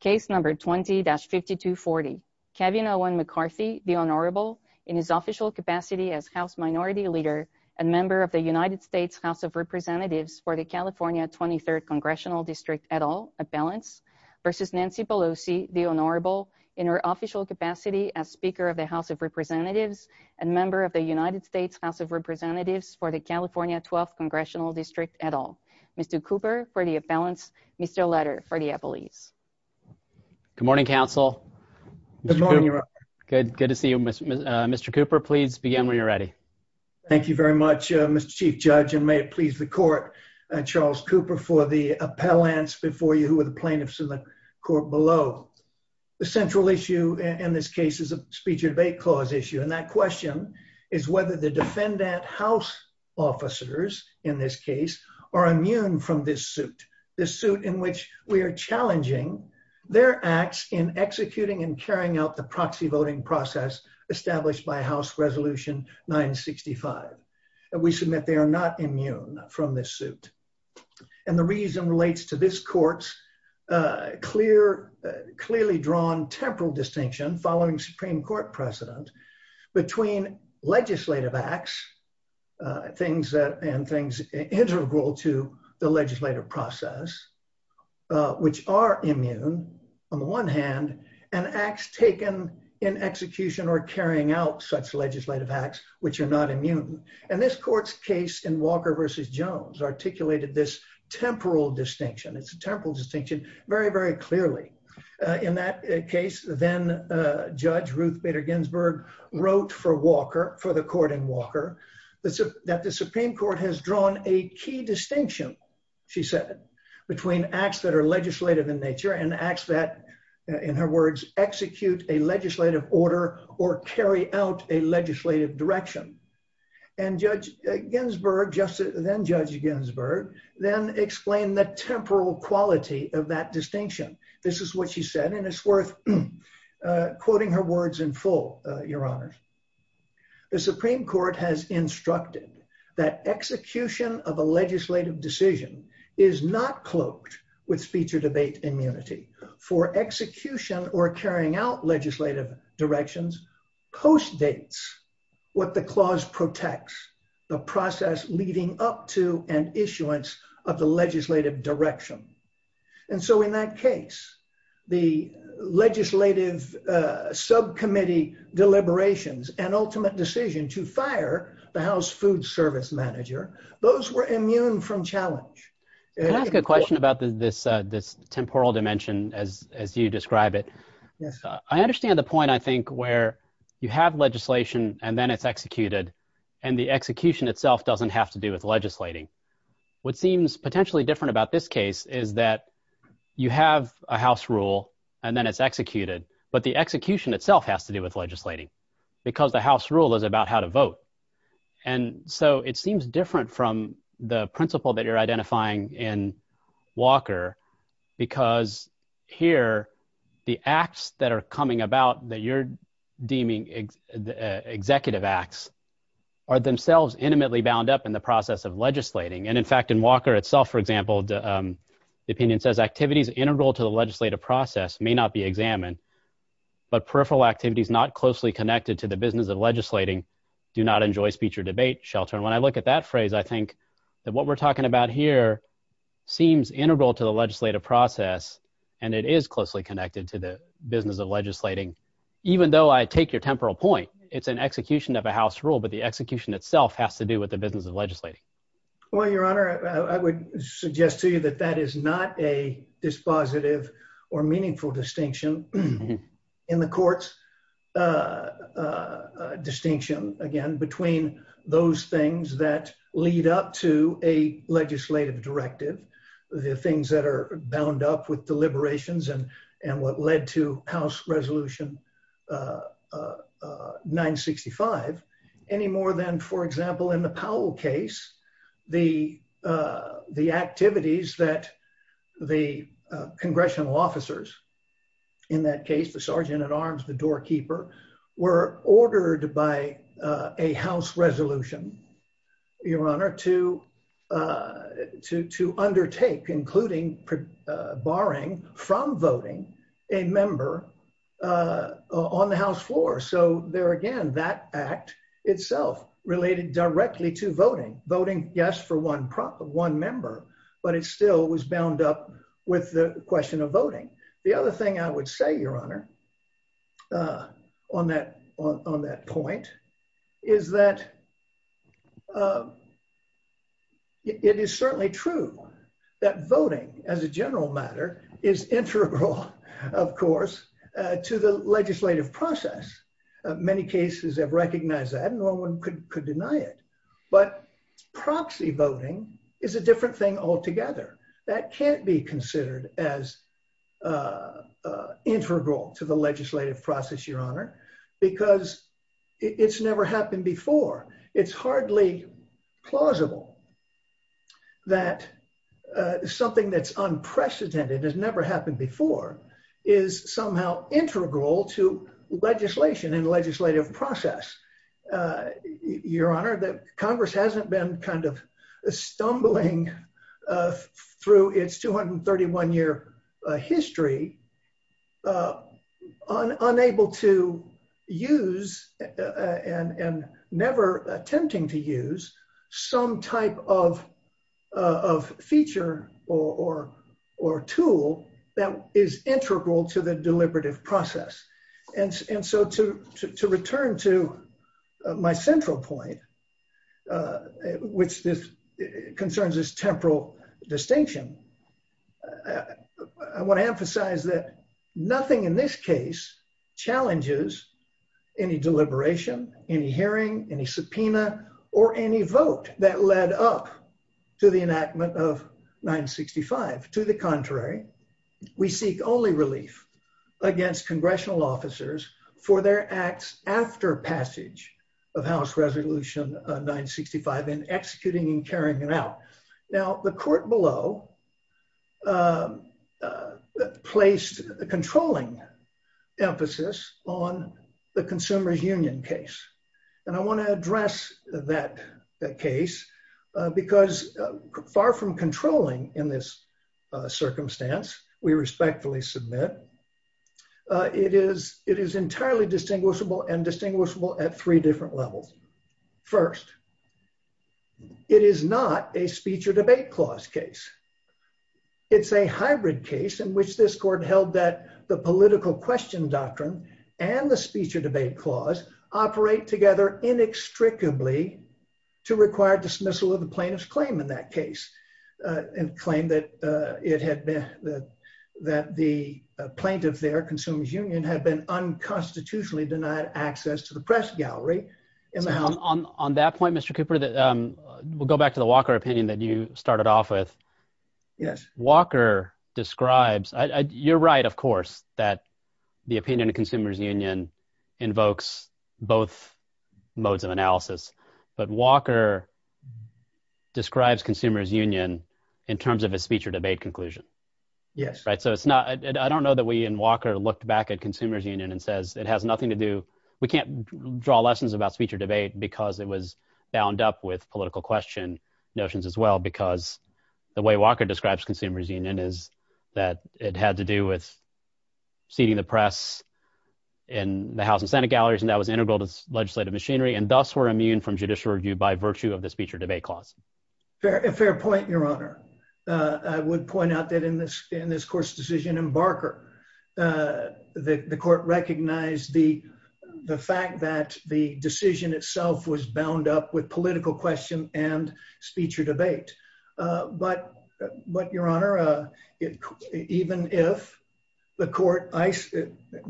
Case number 20-5240. Kevin Owen McCarthy, the Honorable, in his official capacity as House Minority Leader and member of the United States House of Representatives for the California 23rd Congressional District et al., at balance, versus Nancy Pelosi, the Honorable, in her official capacity as Speaker of the House of Representatives and member of the United States House of Representatives for the California 12th Congressional District et al., Mr. Cooper, for the police. Good morning, counsel. Good morning, Your Honor. Good to see you. Mr. Cooper, please begin when you're ready. Thank you very much, Mr. Chief Judge, and may it please the court, Charles Cooper, for the appellants before you who are the plaintiffs in the court below. The central issue in this case is a speech debate clause issue, and that question is whether the defendant house officers, in this case, are immune from this suit, the suit in which we are challenging their acts in executing and carrying out the proxy voting process established by House Resolution 965. We submit they are not immune from this suit, and the reason relates to this court's clearly drawn temporal distinction following Supreme Court precedent between legislative acts and things integral to the legislative process, which are immune, on the one hand, and acts taken in execution or carrying out such legislative acts which are not immune, and this court's case in Walker v. Jones articulated this temporal distinction very, very clearly. In that case, then Judge Ruth Bader Ginsburg wrote for Walker, for the court in Walker, that the Supreme Court has drawn a key distinction, she said, between acts that are legislative in nature and acts that, in her words, execute a legislative order or carry out a legislative direction. And Judge Ginsburg, then Judge Ginsburg, then explained the temporal quality of that distinction. This is what she said, and it's worth quoting her words in full, Your Honor. The Supreme Court has instructed that execution of a legislative decision is not cloaked with speech or debate immunity, for execution or carrying out legislative directions postdates what the clause protects, the process leading up to an issuance of the legislative direction. And so in that case, the legislative subcommittee deliberations and ultimate decision to fire the House food service manager, those were immune from challenge. Can I ask a question about this temporal dimension as you describe it? Yes. I understand the point, I think, where you have and then it's executed, and the execution itself doesn't have to do with legislating. What seems potentially different about this case is that you have a House rule and then it's executed, but the execution itself has to do with legislating, because the House rule is about how to vote. And so it seems different from the principle that you're identifying in Walker, because here the acts that are coming about that you're deeming executive acts are themselves intimately bound up in the process of legislating. And in fact, in Walker itself, for example, the opinion says activities integral to the legislative process may not be examined, but peripheral activities not closely connected to the business of legislating do not enjoy speech or debate shelter. And when I look at that phrase, I think that what we're talking about here seems integral to the legislative process, and it is closely connected to the business of legislating. Even though I take your temporal point, it's an execution of a House rule, but the execution itself has to do with the business of legislating. Well, Your Honor, I would suggest to you that that is not a dispositive or meaningful distinction in the court's distinction, again, between those things that lead up to a legislative directive, the things that are bound up with deliberations and what led to House Resolution 965, any more than, for example, in the Powell case, the activities that the congressional officers, in that case, the sergeant at arms, the doorkeeper, were ordered by a House resolution, Your Honor, to undertake, including barring from voting a member on the House floor. So there again, that act itself related directly to voting, voting, yes, for one member, but it still was bound up with the question of voting. The other thing I would say, Your Honor, on that point, is that it is certainly true that voting, as a general matter, is integral, of course, to the legislative process. Many cases have recognized that, and no one could deny it, but proxy voting is a different thing altogether. That can't be considered as integral to the legislative process, Your Honor, because it's never happened before. It's hardly plausible that something that's legislation in the legislative process, Your Honor, that Congress hasn't been kind of stumbling through its 231-year history, unable to use and never attempting to use some type of feature or tool that is integral to the deliberative process. And so to return to my central point, which concerns this temporal distinction, I want to emphasize that nothing in this case challenges any deliberation, any hearing, any subpoena, or any vote that led up to the enactment of 965. To the contrary, we seek only relief against congressional officers for their acts after passage of House Resolution 965 in executing and carrying it out. Now, the court below placed a controlling emphasis on the Consumer Union case, and I want to address that case because far from controlling in this circumstance, we respectfully submit, it is entirely distinguishable and distinguishable at three different levels. First, it is not a speech or debate clause case. It's a hybrid case in which this court held that the political question doctrine and the speech or debate clause operate together inextricably to require dismissal of the plaintiff's claim in that case, and claim that the plaintiff there, Consumer Union, had been unconstitutionally denied access to the press gallery. On that point, Mr. Cooper, we'll go back to the Walker opinion that you started off with. Walker describes, you're right, of course, that the opinion of Consumers Union invokes both modes of analysis, but Walker describes Consumers Union in terms of a speech or debate conclusion. I don't know that we in Walker looked back at Consumers Union and says it has nothing to do, we can't draw lessons about speech or debate because it was bound up with political question notions as well, because the way Walker describes Consumers Union is that it had to do with seating the press in the House and Senate galleries, and that was integral to legislative machinery, and thus were immune from judicial review by virtue of the speech or debate clause. A fair point, Your Honor. I would point out that in this court's decision in Barker, the court recognized the fact that the decision itself was bound up with political question and speech or debate, but, Your Honor, even if the court,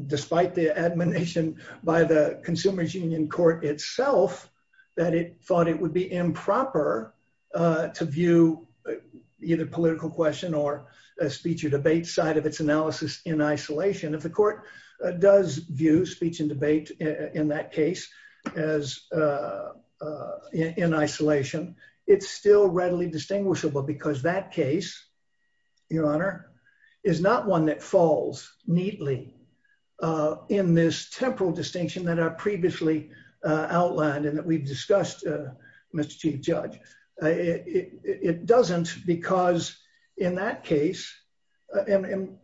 despite the admonition by the Consumers Union court itself that it thought it would be improper to view either political question or speech or debate side of its analysis in isolation, if the court does view speech and debate in that still readily distinguishable, because that case, Your Honor, is not one that falls neatly in this temporal distinction that I previously outlined and that we've discussed, Mr. Chief Judge. It doesn't because in that case, and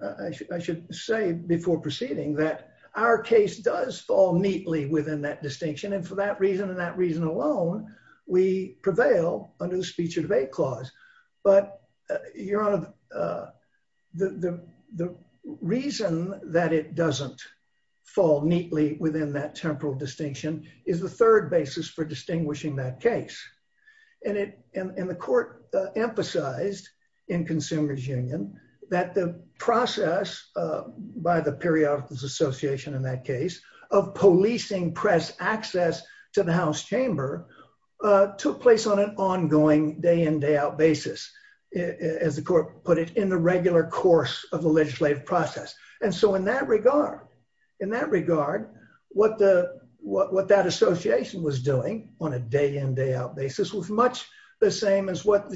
I should say before proceeding that our case does fall neatly within that distinction, and for that reason and that reason alone, we prevail under the speech or debate clause, but, Your Honor, the reason that it doesn't fall neatly within that temporal distinction is the third basis for distinguishing that case, and the court emphasized in Consumers Union that the process by the Periodicals Association in that case of policing press access to the House chamber took place on an ongoing day-in, day-out basis, as the court put it, in the regular course of the legislative process, and so in that regard, what that association was doing on a day-in, day-out basis was much the same as what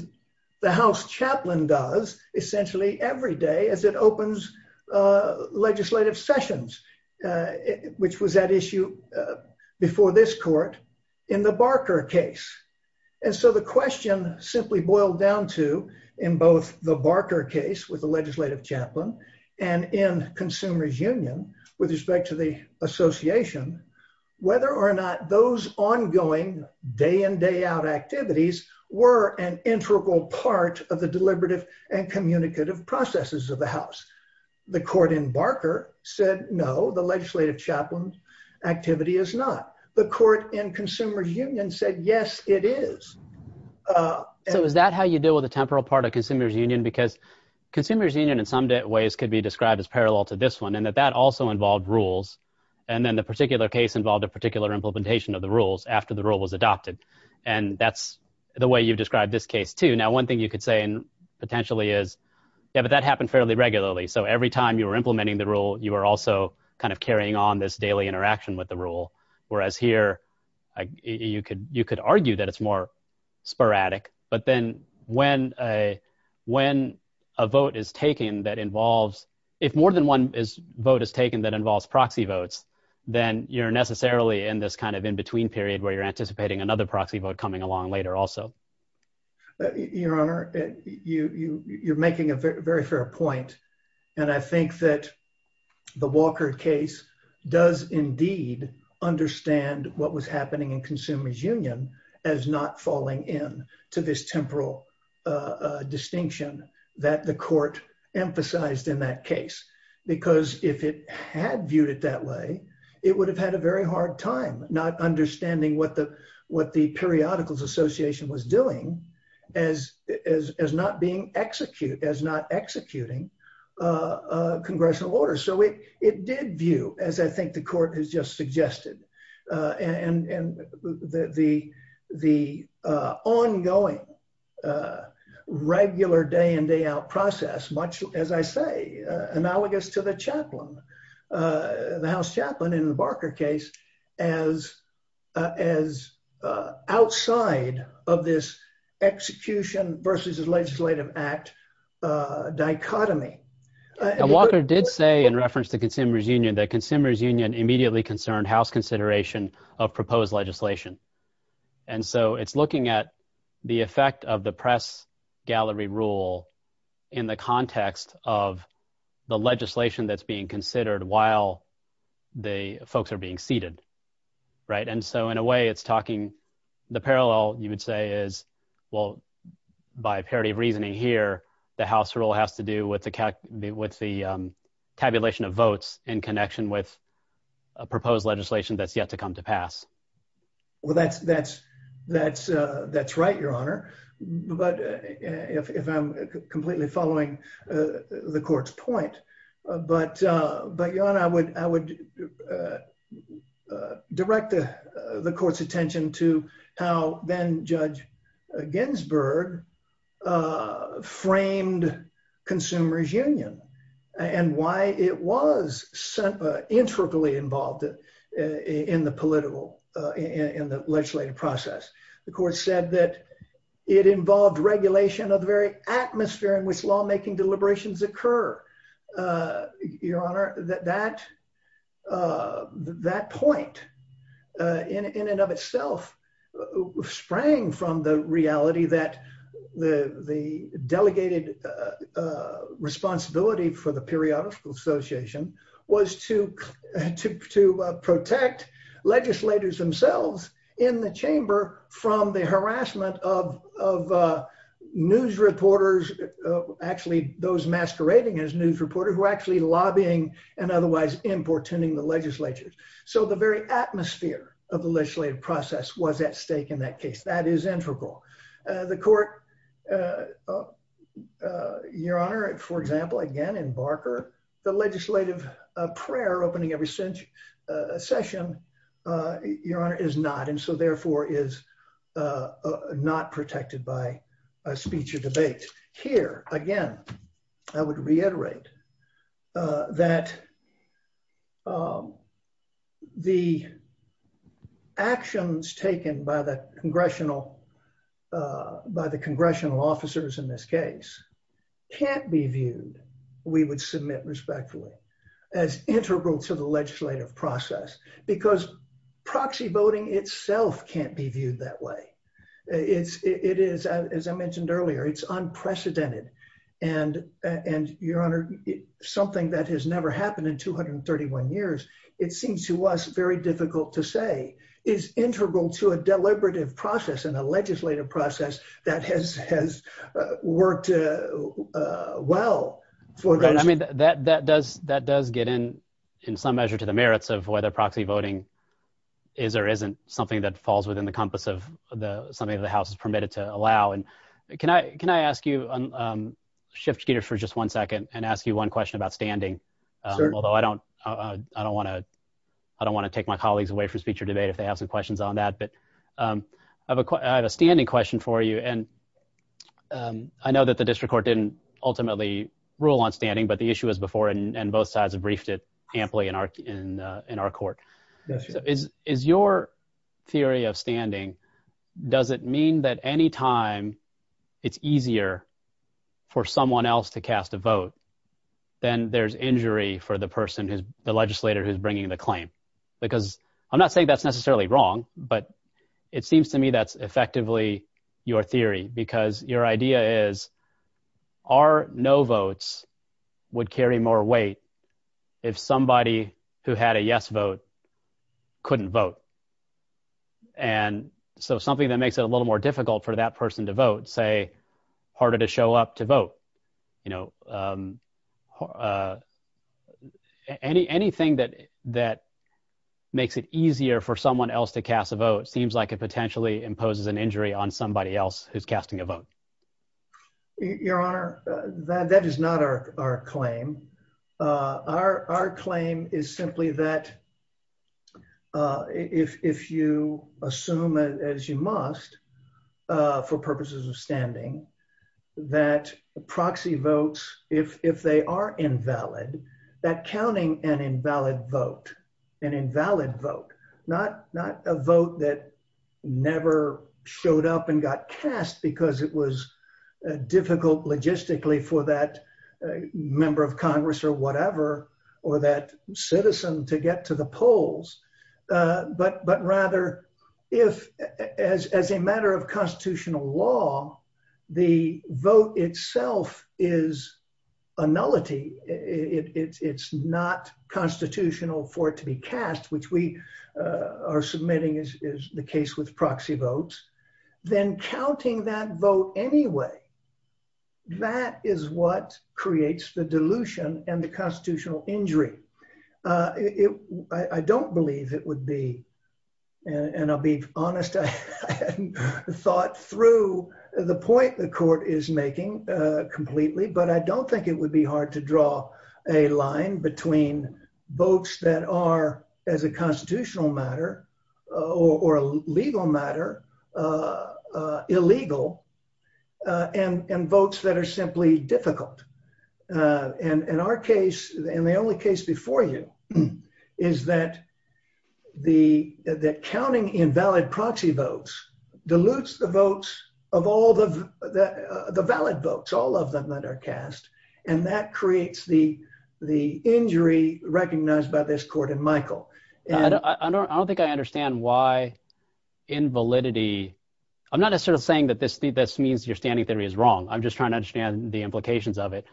the House chaplain does essentially every day as it opens legislative sessions, which was that issue before this court in the Barker case, and so the question simply boiled down to, in both the Barker case with the legislative chaplain and in Consumers Union with respect to the association, whether or not there was a temporal part of Consumers Union, because Consumers Union in some ways could be described as parallel to this one in that that also involved rules, and then the particular case involved a particular implementation of the rules after the rule was adopted, and that's the way you describe this case, too. Now, one thing you could say potentially is, yeah, but that happened fairly regularly, so every time you were implementing the rule, you were also kind of carrying on this daily interaction with the rule, whereas here, you could argue that it's more sporadic, but then when a vote is taken that involves, if more than one vote is taken that involves proxy votes, then you're necessarily in this in-between period where you're anticipating another proxy vote coming along later also. Your Honor, you're making a very fair point, and I think that the Walker case does indeed understand what was happening in Consumers Union as not falling in to this temporal distinction that the court emphasized in that case, because if it had viewed it that way, it would have had a very hard time not understanding what the Periodicals Association was doing as not executing congressional orders, so it did view, as I think the court has just suggested, and the ongoing regular day-in, day-out process, as I say, analogous to the chaplain, the House chaplain in the Barker case, as outside of this execution versus legislative act dichotomy. Walker did say in reference to Consumers Union that Consumers Union immediately concerned House consideration of proposed legislation, and so it's looking at the effect of the press gallery rule in the context of the legislation that's being considered while the folks are being seated, right? And so, in a way, it's talking, the parallel, you would say, is, well, by parity of reasoning here, the House rule has to do with the tabulation of votes in connection with a proposed legislation that's yet to come to pass. Well, that's right, Your Honor, but if I'm completely following the court's point, but, Your Honor, I would direct the court's attention to how then-Judge Ginsburg framed Consumers Union and why it was intricately involved in the legislative process. The court said that it involved regulation of the very atmosphere in which lawmaking deliberations occur. Your Honor, that point in and of itself sprang from the reality that the delegated responsibility for the Periodical Association was to protect legislators themselves in the chamber from the harassment of news reporters, actually, those masquerading as news reporters, who were actually lobbying and otherwise importuning the legislatures. So, the very atmosphere of the legislative process was at stake in that case. That is integral. The court, Your Honor, for example, again, in Barker, the legislative prayer opening every session, Your Honor, is not, and so, therefore, is not protected by a speech or debate. Here, again, I would reiterate that the actions taken by the congressional officers in this case can't be viewed, we would submit respectfully, as integral to the legislative process, because proxy voting itself can't be viewed that way. It is, as I mentioned earlier, it's unprecedented, and, Your Honor, something that has never happened in 231 years, it seems to us very difficult to say is integral to a deliberative process and a legislative process that has worked well for it. I mean, that does get in, in some measure, to the merits of whether proxy voting is or isn't something that falls within the compass of something that the House has permitted to allow, and can I ask you, shift, Peter, for just one second and ask you one question about standing, although I don't want to take my colleagues away from speech or debate if they have some questions on that, but I have a standing question for you, and I know that the district court didn't ultimately rule on standing, but the issue was before, and both sides have briefed it amply in our court. Is your theory of standing, does it mean that anytime it's easier for someone else to cast a vote, then there's injury for the person, the legislator who's bringing the claim? Because I'm not saying that's necessarily wrong, but it seems to me that's effectively your theory, because your idea is our no votes would carry more weight if somebody who had a yes vote couldn't vote, and so something that makes it a little more difficult for that person to vote, say, harder to show up to vote, you know, anything that makes it easier for someone else to cast a vote seems like it potentially imposes an injury on somebody else who's casting a vote. Your Honor, that is not our claim. Our claim is simply that if you assume, as you must, for purposes of standing, that proxy votes, if they are invalid, that counting an invalid vote, an invalid vote, not a vote that never showed up and got cast because it was difficult logistically for that member of Congress or whatever, or that citizen to get to the polls, but rather if, as a matter of constitutional law, the vote itself is a nullity. It's not constitutional for it to be cast, which we are submitting is the case with proxy votes, then counting that vote anyway, that is what creates the dilution and the constitutional injury. I don't believe it would be, and I'll be honest, I hadn't thought through the point the court is votes that are, as a constitutional matter, or a legal matter, illegal, and votes that are simply difficult. In our case, and the only case before you, is that the counting invalid proxy votes dilutes the votes of all the valid votes, all of them that are cast, and that creates the injury recognized by this court in Michael. I don't think I understand why invalidity, I'm not necessarily saying that this means your standing theory is wrong. I'm just trying to understand the implications of it.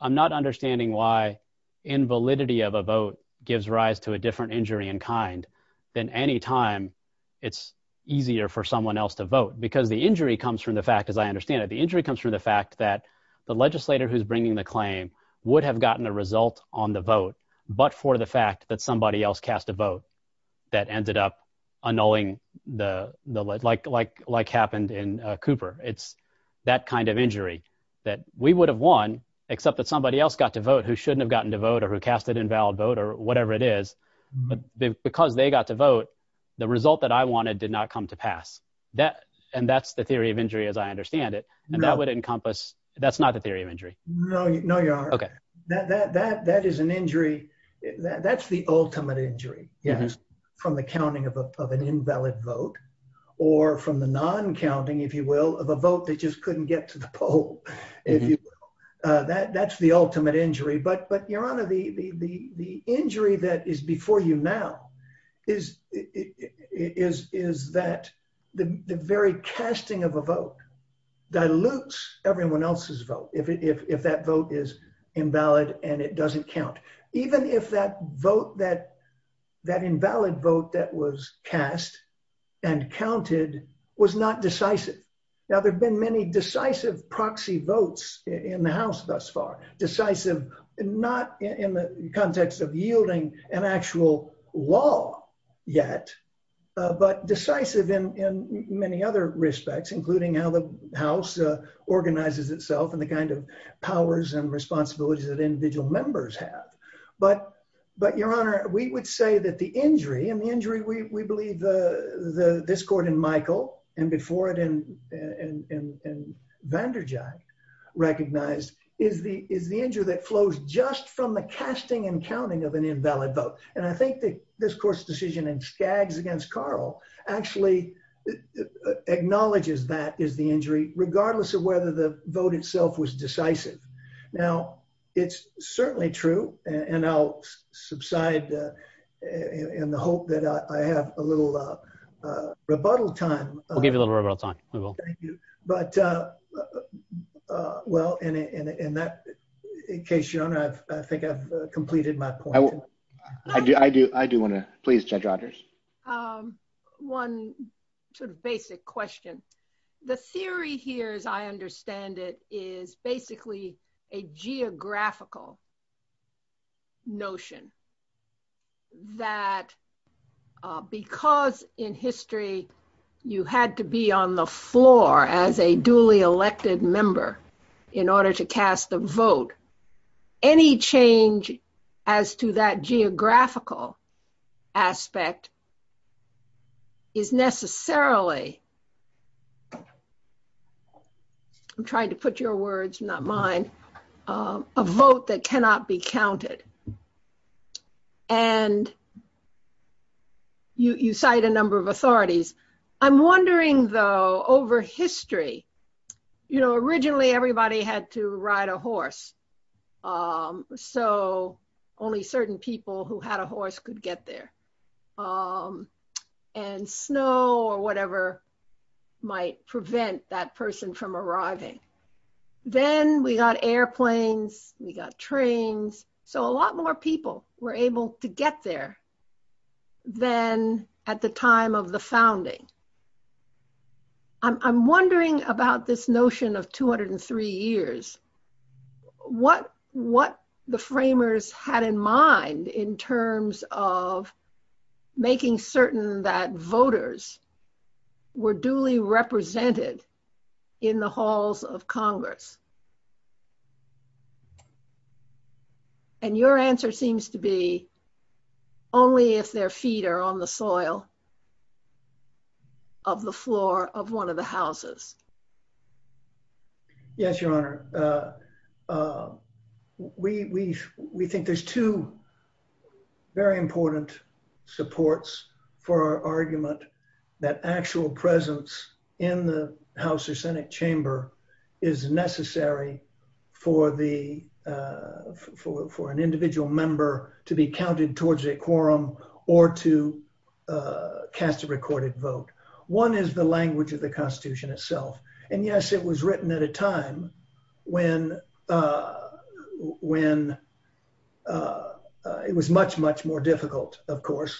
I'm not understanding why invalidity of a vote gives rise to a different injury in kind than any time it's easier for someone else to vote, because the injury comes from the fact, as I understand it, the injury comes from the fact that the legislator who's bringing the claim would have gotten a result on the vote, but for the fact that somebody else cast a vote that ended up annulling, like happened in Cooper. It's that kind of injury that we would have won, except that somebody else got to vote who shouldn't have gotten to vote, or who cast an invalid vote, or whatever it is, but because they got to vote, the result that I wanted did not come to pass, and that's the theory of injury as I understand it, and that would encompass, that's not the theory of injury. No, your honor, that is an injury, that's the ultimate injury, from the counting of an invalid vote, or from the non-counting, if you will, of a vote that just couldn't get to the poll, if you will. That's the ultimate injury, but your honor, the injury that is before you now, is that the very casting of a vote dilutes everyone else's vote, if that vote is invalid, and it doesn't count, even if that vote, that invalid vote that was cast, and counted, was not decisive. Now, there have been many decisive proxy votes in the context of yielding an actual law yet, but decisive in many other respects, including how the house organizes itself, and the kind of powers and responsibilities that individual members have, but your honor, we would say that the injury, and the injury, we believe the discord in Michael, and before it, and Vanderjagt recognized, is the injury that flows just from the casting and counting of an invalid vote, and I think that this court's decision in Skaggs against Carl actually acknowledges that is the injury, regardless of whether the vote itself was decisive. Now, it's certainly true, and I'll subside in the hope that I have a little rebuttal time. We'll give you a little rebuttal time, we will. Thank you, but well, in that case, your honor, I think I've completed my point. I do want to, please Judge Rogers. One sort of basic question. The theory here, as I understand it, is basically a geographical notion that because in history you had to be on the floor as a duly elected member in order to cast a vote, any change as to that geographical aspect is necessarily, I'm trying to put your words, not mine, a vote that cannot be counted, and you cite a number of authorities. I'm wondering though, over history, you know, originally everybody had to ride a horse, so only certain people who had a horse could get there, and snow or whatever might prevent that person from arriving. Then we got airplanes, we got trains, so a lot more people were able to get there than at the time of the founding. I'm wondering about this notion of 203 years, what the framers had in mind in terms of making certain that voters were duly represented in the halls of Congress, and your answer seems to be only if their feet are on the soil of the floor of one of the houses. Yes, Your Honor. We think there's two very important supports for our argument that actual presence in the House or Senate chamber is necessary for an individual member to be counted towards a quorum or to cast a recorded vote. One is the language of the Constitution itself, and yes, it was written at a time when it was much, much more difficult, of course,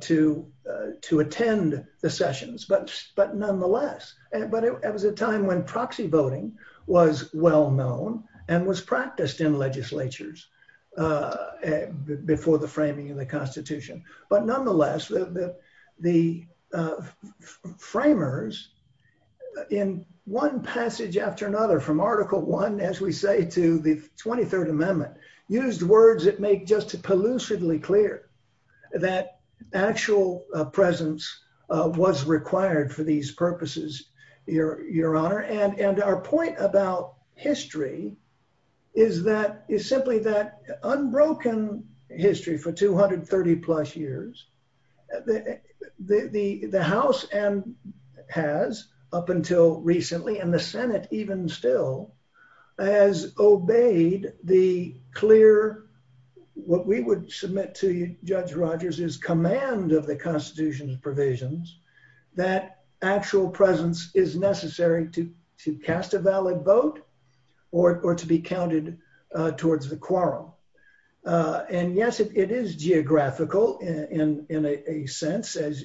to attend the sessions, but nonetheless, it was a time when proxy voting was well known and was practiced in legislatures before the framing of the Constitution, but nonetheless, the framers, in one passage after another, from Article I, as we say, to the 23rd Amendment, used words that make just as elusively clear that actual presence was required for these purposes, Your Honor, and our point about history is simply that unbroken history for 230-plus years, the House has, up until recently, and the Senate even still, has obeyed the clear, what we would submit to Judge Rogers as command of the Constitution's provisions, that actual presence is necessary to cast a valid vote or to be counted towards the quorum. And yes, it is geographical in a sense, as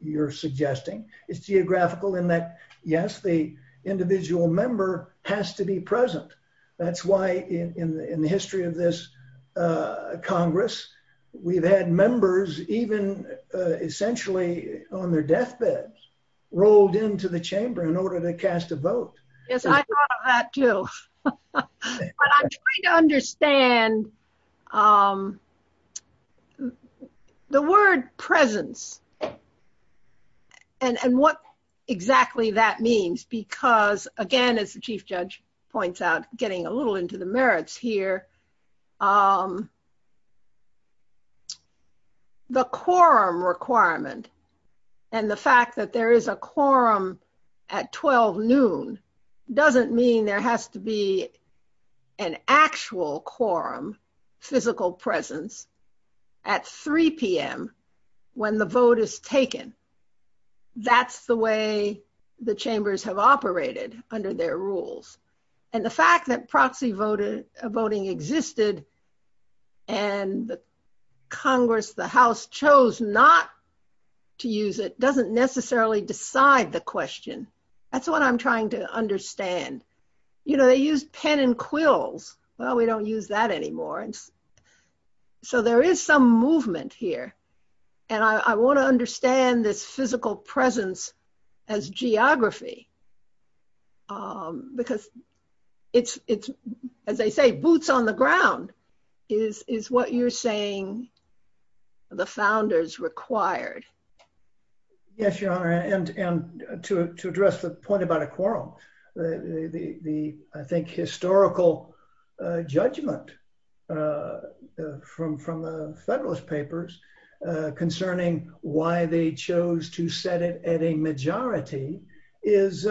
you're suggesting. It's geographical in that, yes, the individual member has to be present. That's why, in the history of this Congress, we've had members, even essentially on their deathbeds, rolled into the chamber in order to cast a vote. Yes, I thought of that too. But I'm trying to understand the word presence and what exactly that means because, again, as the Chief Judge points out, getting a little into the merits here, the quorum requirement and the fact that there is a quorum at 12 noon doesn't mean there has to be an actual quorum, physical presence, at 3 p.m. when the vote is taken. That's the way the chambers have operated under their rules. And the fact that proxy voting existed and Congress, the House, chose not to use it doesn't necessarily decide the question. That's what I'm trying to understand. You know, they use ten and quills. Well, we don't use that anymore. So there is some movement here. And I want to it's, as they say, boots on the ground is what you're saying the founders required. Yes, Your Honor. And to address the point about a quorum, the, I think, historical judgment from the Federalist Papers concerning why they chose to set it at a majority is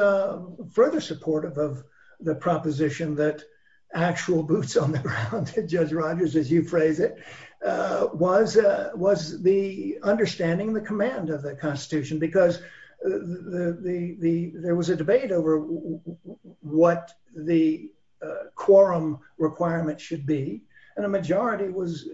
further supportive of the proposition that actual boots on the ground, Judge Rogers, as you phrase it, was the understanding, the command of the Constitution, because there was a debate over what the quorum requirement should be. And a majority was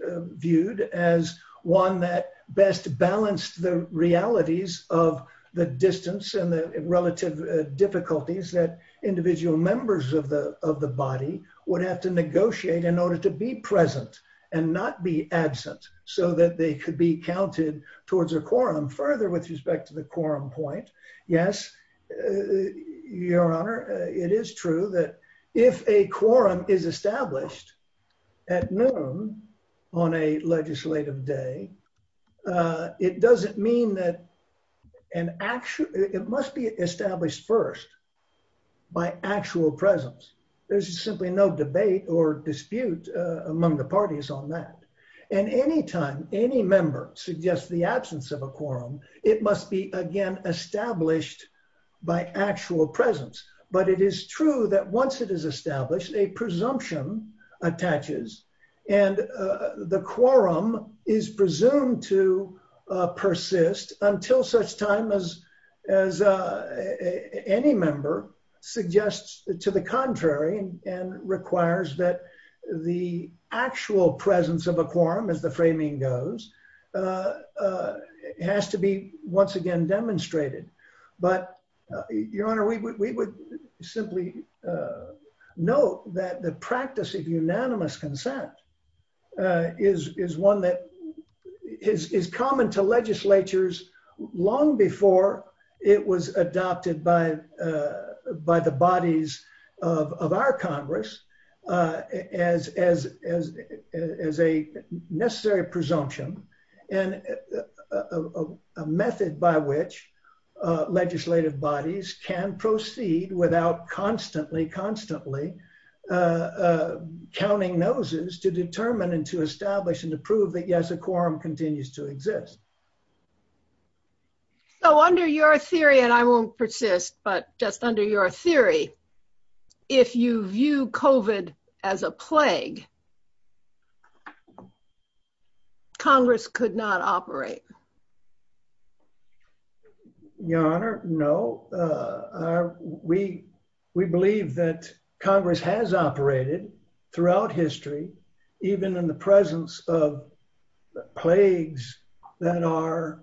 relative difficulties that individual members of the body would have to negotiate in order to be present and not be absent, so that they could be counted towards a quorum further with respect to the quorum point. Yes, Your Honor, it is true that if a quorum is established at noon on a legislative day, it doesn't mean that an actual, it must be established first by actual presence. There's simply no debate or dispute among the parties on that. And any time any member suggests the absence of a quorum, it must be again established by actual presence. But it is true that once it is established, a presumption attaches. And the quorum is presumed to persist until such time as any member suggests to the contrary and requires that the actual presence of a quorum, as the framing goes, has to be once again demonstrated. But, Your Honor, we would simply note that the practice of unanimous consent is one that is common to legislatures long before it was adopted by the bodies of our Congress as a necessary presumption and a method by which legislative bodies can proceed without constantly, constantly counting noses to determine and to establish and to prove that yes, a quorum continues to exist. So under your theory, and I won't persist, but just under your theory, if you view COVID as a plague, Congress could not operate? Your Honor, no. We believe that Congress has operated throughout history, even in the presence of plagues that are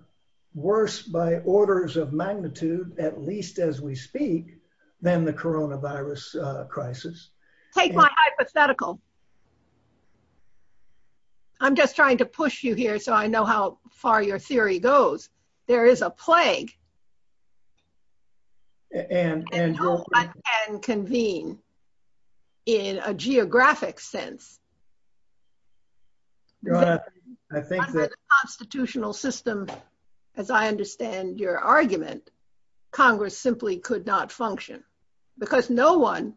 worse by orders of magnitude, at least as we speak, than the coronavirus crisis. Take my hypothetical. I'm just trying to push you here so I know how far your theory goes. There is a plague and hope I can convene in a geographic sense. I think that constitutional systems, as I understand your argument, Congress simply could not function because no one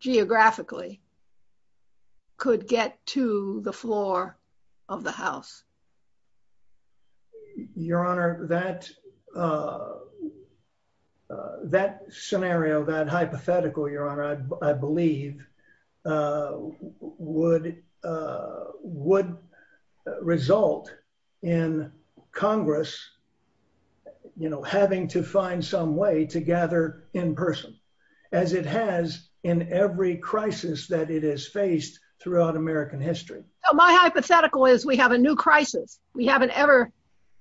geographically could get to the floor of the House. Your Honor, that scenario, that hypothetical, Your Honor, I believe, would result in Congress having to find some way to gather in person, as it has in every crisis that it has faced throughout American history. My hypothetical is we have a new crisis. We haven't ever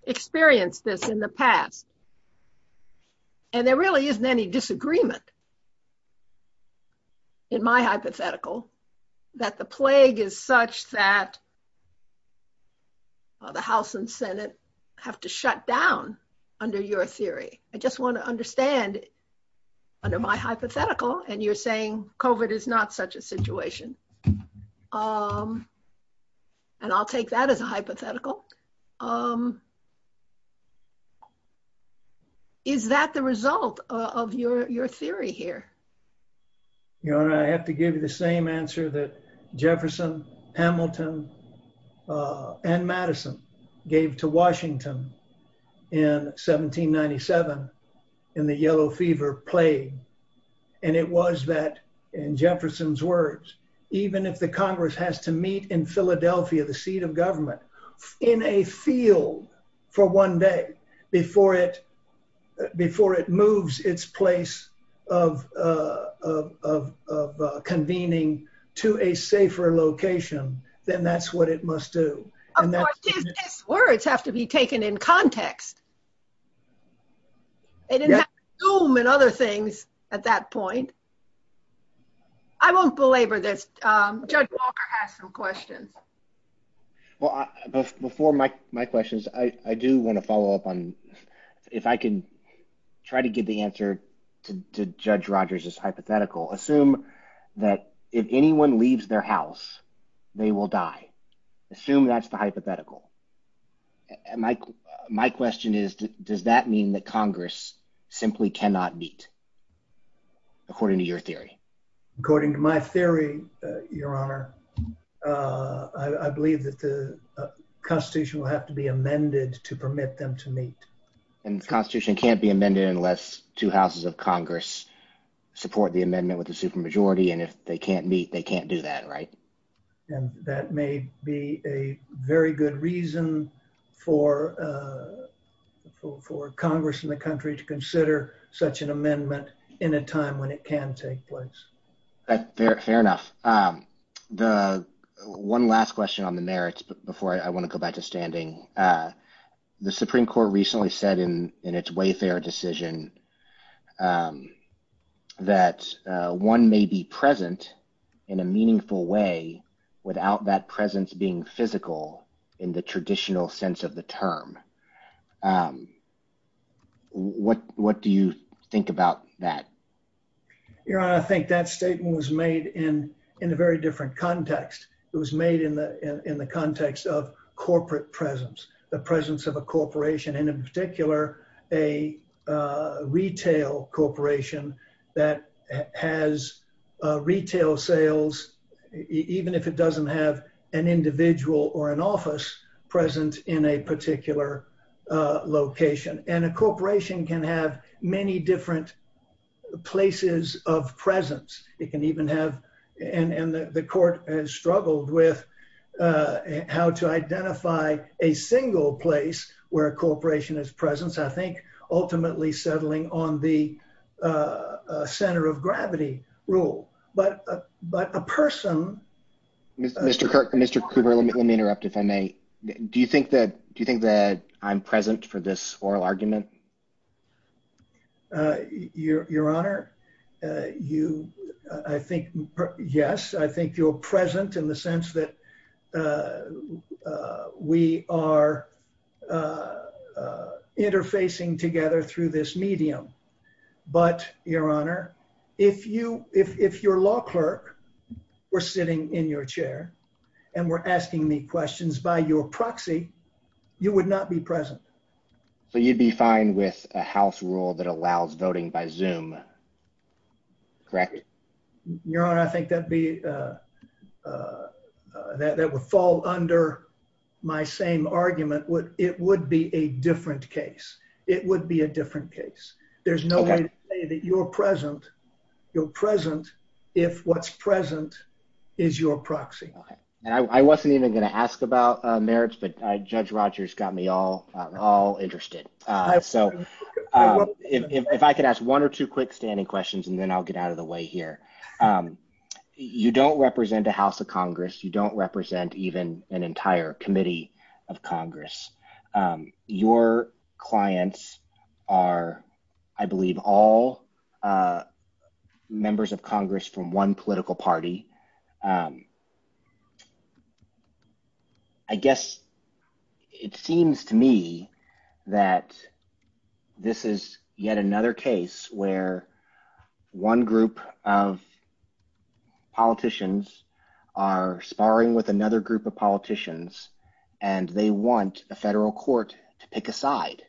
experienced this in the past. And there really isn't any disagreement in my hypothetical that the plague is such that the House and Senate have to shut down under your theory. I just want to understand, under my hypothetical, and you're saying COVID is not such a situation. And I'll take that as a hypothetical. Is that the result of your theory here? Your Honor, I have to give you the same answer that plague. And it was that, in Jefferson's words, even if the Congress has to meet in Philadelphia, the seat of government, in a field for one day before it moves its place of convening to a safer location, then that's what it must do. Of course, his words have to be taken in context. It is not Zoom and other things at that point. I won't belabor this. Judge Walker has some questions. Well, before my questions, I do want to follow up on, if I can try to give the answer to Judge Rogers' hypothetical. Assume that if anyone leaves their house, they will die. Assume that's the hypothetical. And my question is, does that mean that Congress simply cannot meet, according to your theory? According to my theory, Your Honor, I believe that the Constitution will have to be amended to permit them to meet. And the Constitution can't be amended unless two houses of Congress support the amendment with the supermajority. And if they can't meet, they can't do that, right? And that may be a very good reason for Congress and the country to consider such an amendment in a time when it can take place. Fair enough. One last question on the merits before I want to go back to standing. The Supreme Court recently said in its Wayfair decision that one may be present in a meaningful way without that presence being physical in the traditional sense of the term. What do you think about that? Your Honor, I think that statement was made in a very different context. It was made in the presence of a corporation, and in particular, a retail corporation that has retail sales, even if it doesn't have an individual or an office present in a particular location. And a corporation can have many different places of presence. It can even have, and the Court has struggled with how to identify a single place where a corporation is present, I think, ultimately settling on the center of gravity rule. But a person... Mr. Cooper, let me interrupt, if I may. Do you think that I'm present for this oral argument? Your Honor, you, I think, yes, I think you're present in the sense that we are interfacing together through this medium. But, Your Honor, if you, if your law clerk were sitting in your chair and were asking me questions by your proxy, you would not be present. So you'd be fine with a House rule that allows voting by Zoom, correct? Your Honor, I think that would fall under my same argument. It would be a different case. It would be a different case. There's no way to say that you're present if what's present is your proxy. I wasn't even going to ask about merits, but Judge Rogers got me all interested. So if I could ask one or two quickstanding questions and then I'll get out of the way here. You don't represent the House of Congress. You don't represent even an entire committee of Congress. Your clients are, I believe, all members of Congress from one political party. I guess it seems to me that this is yet another case where one group of politicians are sparring with another group of politicians and they want the federal court to pick a side.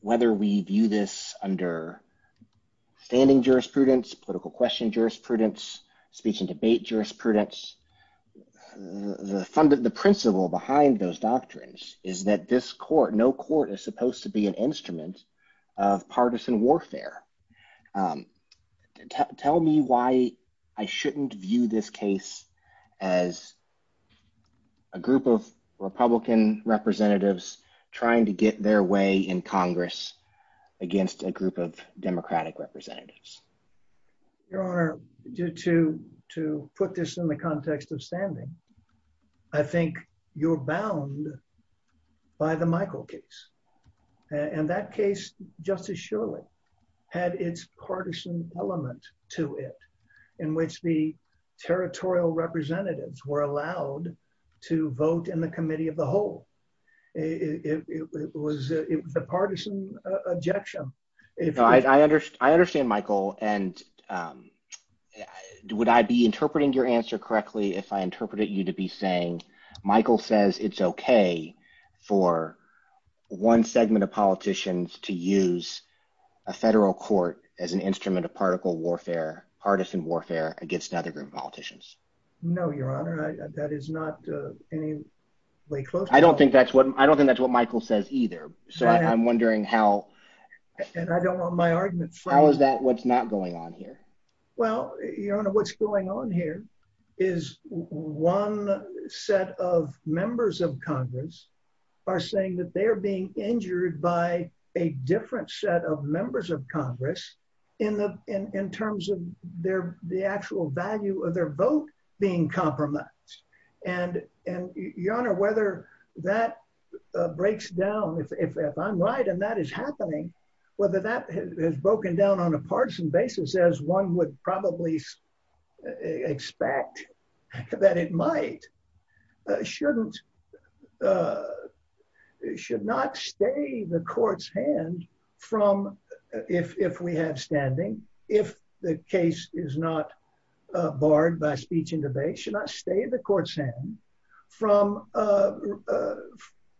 Whether we view this under standing jurisprudence, political question jurisprudence, speech and debate jurisprudence, the principle behind those doctrines is that this court, no court, is supposed to be an instrument of partisan warfare. Tell me why I shouldn't view this case as a group of Republican representatives trying to get their way in Congress against a group of Democratic representatives. Your Honor, just to put this in the context of standing, I think you're bound by the Michael case. And that case, Justice Shirley, had its territorial representatives were allowed to vote in the committee of the whole. It was the partisan objection. I understand, Michael, and would I be interpreting your answer correctly if I interpreted you to be saying Michael says it's okay for one segment of politicians to use a federal court as an instrument of partisan warfare against another group of politicians? No, Your Honor, that is not any way close. I don't think that's what I don't think that's what Michael says either. So I'm wondering how and I don't know my argument. How is that what's not going on here? Well, Your Honor, what's going on here is one set of members of Congress are saying that they are being injured by a different set of value of their vote being compromised. And Your Honor, whether that breaks down, if I'm right, and that is happening, whether that has broken down on a partisan basis, as one would probably expect that it might, should not stay the court's hand from, if we had standing, if the case is not barred by speech and debate, should not stay the court's hand from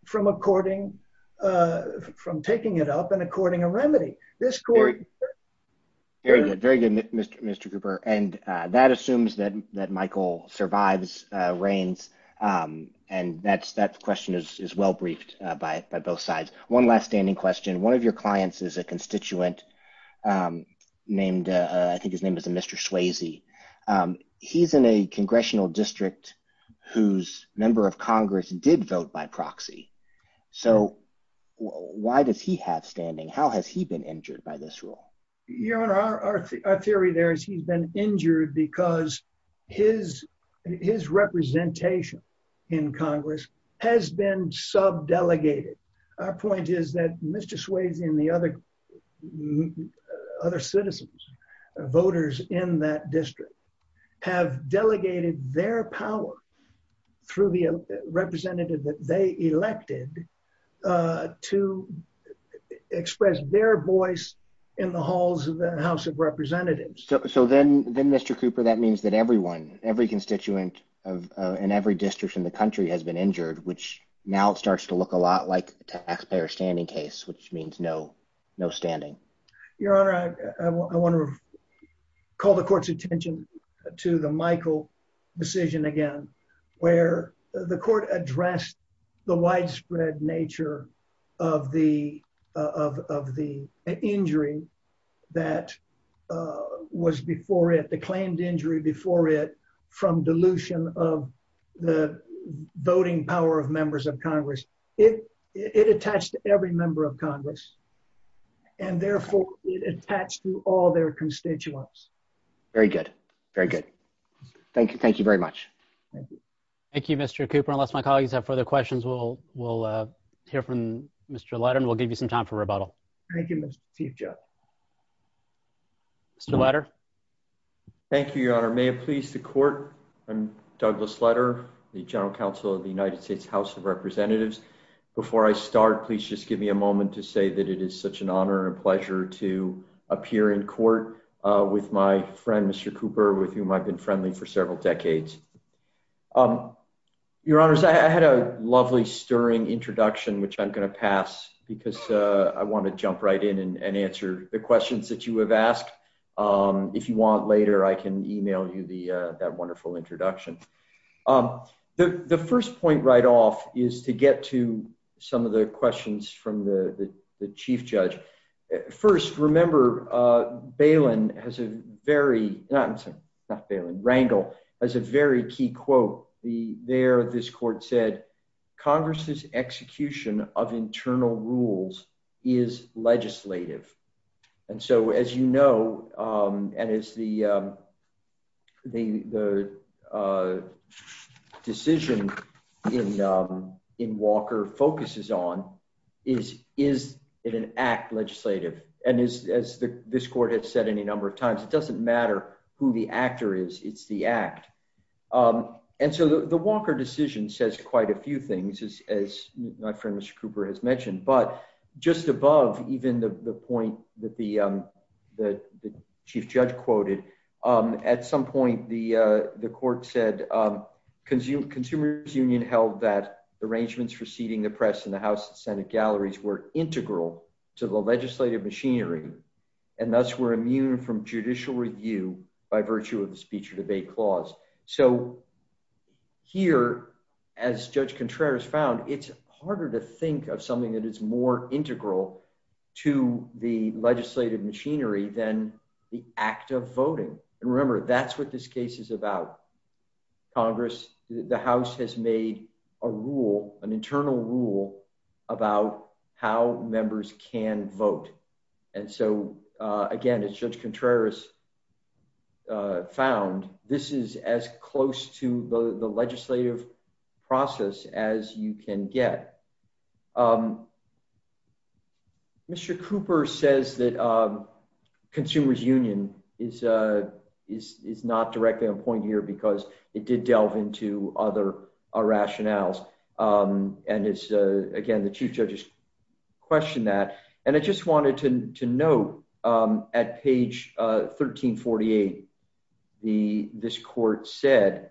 from a courting, from taking it up and according a remedy. This court... Very good, Mr. Cooper. And that assumes that that Michael survives, reigns. And that's that question is well briefed by both sides. One last standing question. One of your clients is a named, I think his name is a Mr. Swayze. He's in a congressional district whose member of Congress did vote by proxy. So why does he have standing? How has he been injured by this rule? Your Honor, our theory there is he's been injured because his representation in Congress has been sub delegated. Our point is that Mr. Swayze and the other citizens, voters in that district have delegated their power through the representative that they elected to express their voice in the halls of the House of Representatives. So then Mr. Cooper, that means that everyone, every constituent and every district in the which now starts to look a lot like a taxpayer standing case, which means no standing. Your Honor, I want to call the court's attention to the Michael decision again, where the court addressed the widespread nature of the injury that was before it, the claimed injury before it from dilution of the voting power of members of Congress. It, it attached to every member of Congress and therefore it attached to all their constituents. Very good. Very good. Thank you. Thank you very much. Thank you. Thank you, Mr. Cooper. Unless my colleagues have further questions, we'll, we'll hear from Mr. Letterman. We'll give you some time for rebuttal. Thank you, Mr. Chief I'm Douglas Letterman, the General Counsel of the United States House of Representatives. Before I start, please just give me a moment to say that it is such an honor and pleasure to appear in court with my friend, Mr. Cooper, with whom I've been friendly for several decades. Your Honor, I had a lovely stirring introduction, which I'm going to pass because I want to jump right in and answer the questions that you have asked. If you want later, I can email you the, that wonderful introduction. The, the first point right off is to get to some of the questions from the, the, the Chief Judge. First, remember, Bailin has a very, not, not Bailin, Rangel has a very key quote. The, there this court said, Congress's execution of internal rules is legislative. And so, as you know, and as the, the, the decision in, in Walker focuses on is, is it an act legislative? And as, as this court has said any number of times, it doesn't matter who the actor is, it's the act. And so the Walker decision says quite a few things as, as my friend, Mr. Cooper has mentioned, but just above even the, the point that the, that the Chief Judge quoted at some point, the, the court said consumer's union held that arrangements for seating the press in the House and Senate galleries were integral to the legislative machinery. And thus we're immune from judicial review by virtue of the speech or debate clause. So here, as Judge Contreras found, it's harder to think of something that is more integral to the legislative machinery than the act of voting. And remember, that's what this case is about. Congress, the House has made a rule, an internal rule about how members can vote. And so again, as Judge Contreras found, this is as close to the legislative process as you can get. Mr. Cooper says that consumer's union is, is, is not directly on point here because it did delve into other rationales. And it's again, the Chief Judge's question that, and I just wanted to note at page 1348, the, this court said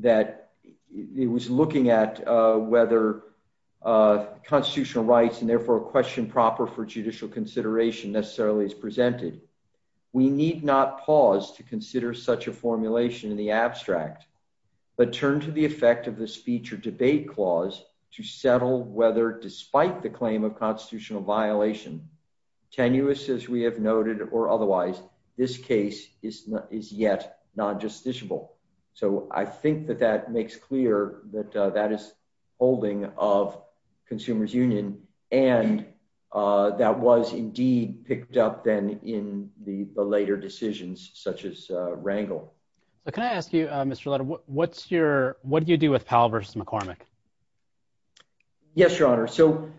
that it was looking at whether constitutional rights and therefore a question proper for considering such a formulation in the abstract, but turned to the effect of the speech or debate clause to settle whether despite the claim of constitutional violation, tenuous as we have noted or otherwise, this case is, is yet non-justiciable. So I think that that makes clear that that is holding of consumer's union. And that was indeed picked up then in the, the later decisions such as Rangel. Can I ask you, Mr. Lutter, what's your, what did you do with Powell versus McCormick? Yes, Your Honor. So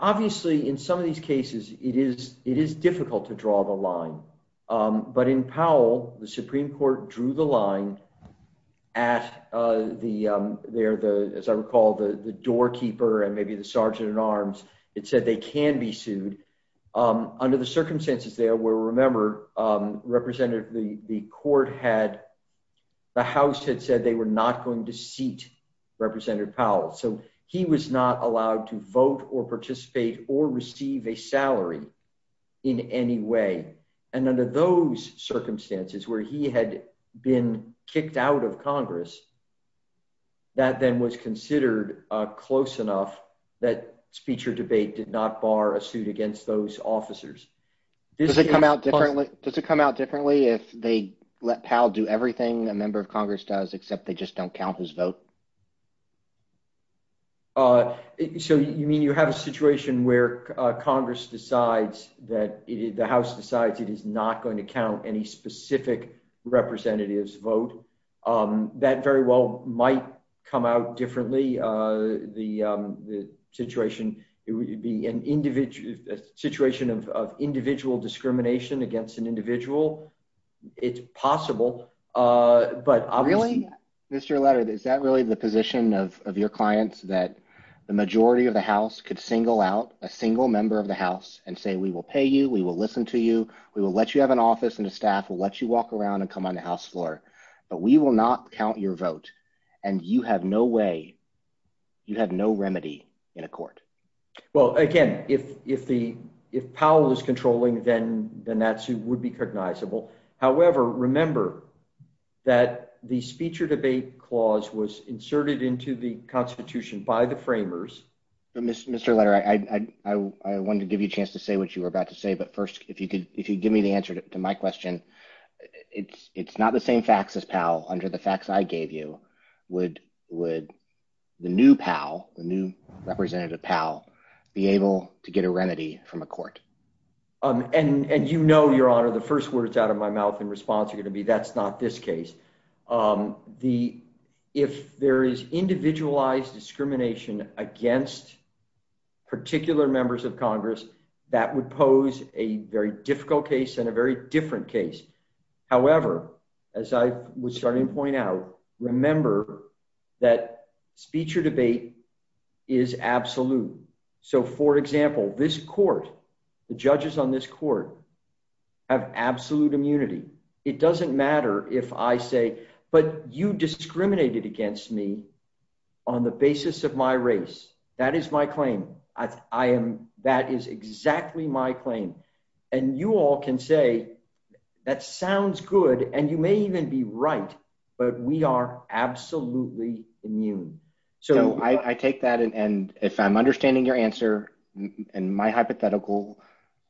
obviously in some of these cases, it is, it is difficult to draw the line. But in Powell, the Supreme Court drew the line at the, there, the, as I recall, the, the doorkeeper and maybe the Sergeant-at-Arms, it said they can be sued. Under the circumstances there were, remember, Representative, the, the court had, the House had said they were not going to seat Representative Powell. So he was not allowed to vote or participate or receive a salary in any way. And under those circumstances where he had been kicked out of Congress, that then was considered close enough that speech or debate did not bar a suit against those officers. Does it come out differently? Does it come out differently if they let Powell do everything a member of Congress does, except they just don't count his vote? So you mean you have a situation where Congress decides that the House decides it is not going to count any specific representative's vote? That very well might come out differently. The, the situation, it would be an individual, a situation of, of individual discrimination against an individual. It's possible. But I'll- Really, Mr. Levitt, is that really the position of, of your clients that the majority of the House could single out a single member of the House and say, we will pay you, we will listen to you, we will let you have an office and the staff will let you walk around and come on the House floor, but we will not count your vote. And you have no way, you have no remedy in a court. Well, again, if, if the, if Powell is controlling, then, then that suit would be cognizable. However, remember that the speech or debate clause was inserted into the Constitution by the framers. Mr. Lerner, I, I, I wanted to give you a chance to say what you were about to say, but first, if you could, if you'd give me the answer to my question, it's, it's not the same facts as Powell under the facts I gave you. Would, would the new Powell, the new representative Powell be able to get a remedy from a court? And, and you know, Your Honor, the first words out of my mouth in response are going to be, that's not this case. The, if there is individualized discrimination against particular members of Congress, that would pose a very difficult case and a very different case. However, as I was starting to point out, remember that speech or debate is absolute. So for example, this court, the judges on this court have absolute immunity. It doesn't matter if I say, but you discriminated against me on the basis of my race. That is my claim. I am, that is exactly my claim. And you all can say, that sounds good. And you may even be right, but we are absolutely immune. So I take that. And if I'm understanding your answer and my hypothetical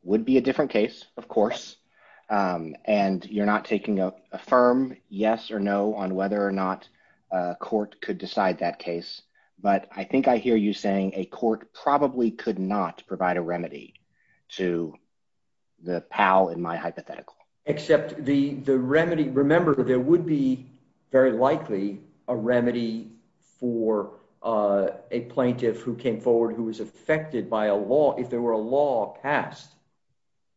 would be a different case, of course. And you're not taking a firm yes or no on whether or not a court could decide that case. But I think I hear you saying a court probably could not provide a remedy to the Powell in my hypothetical. Except the, the remedy, remember that there would be very likely a remedy for a plaintiff who came forward, who was affected by a law. If there were a law passed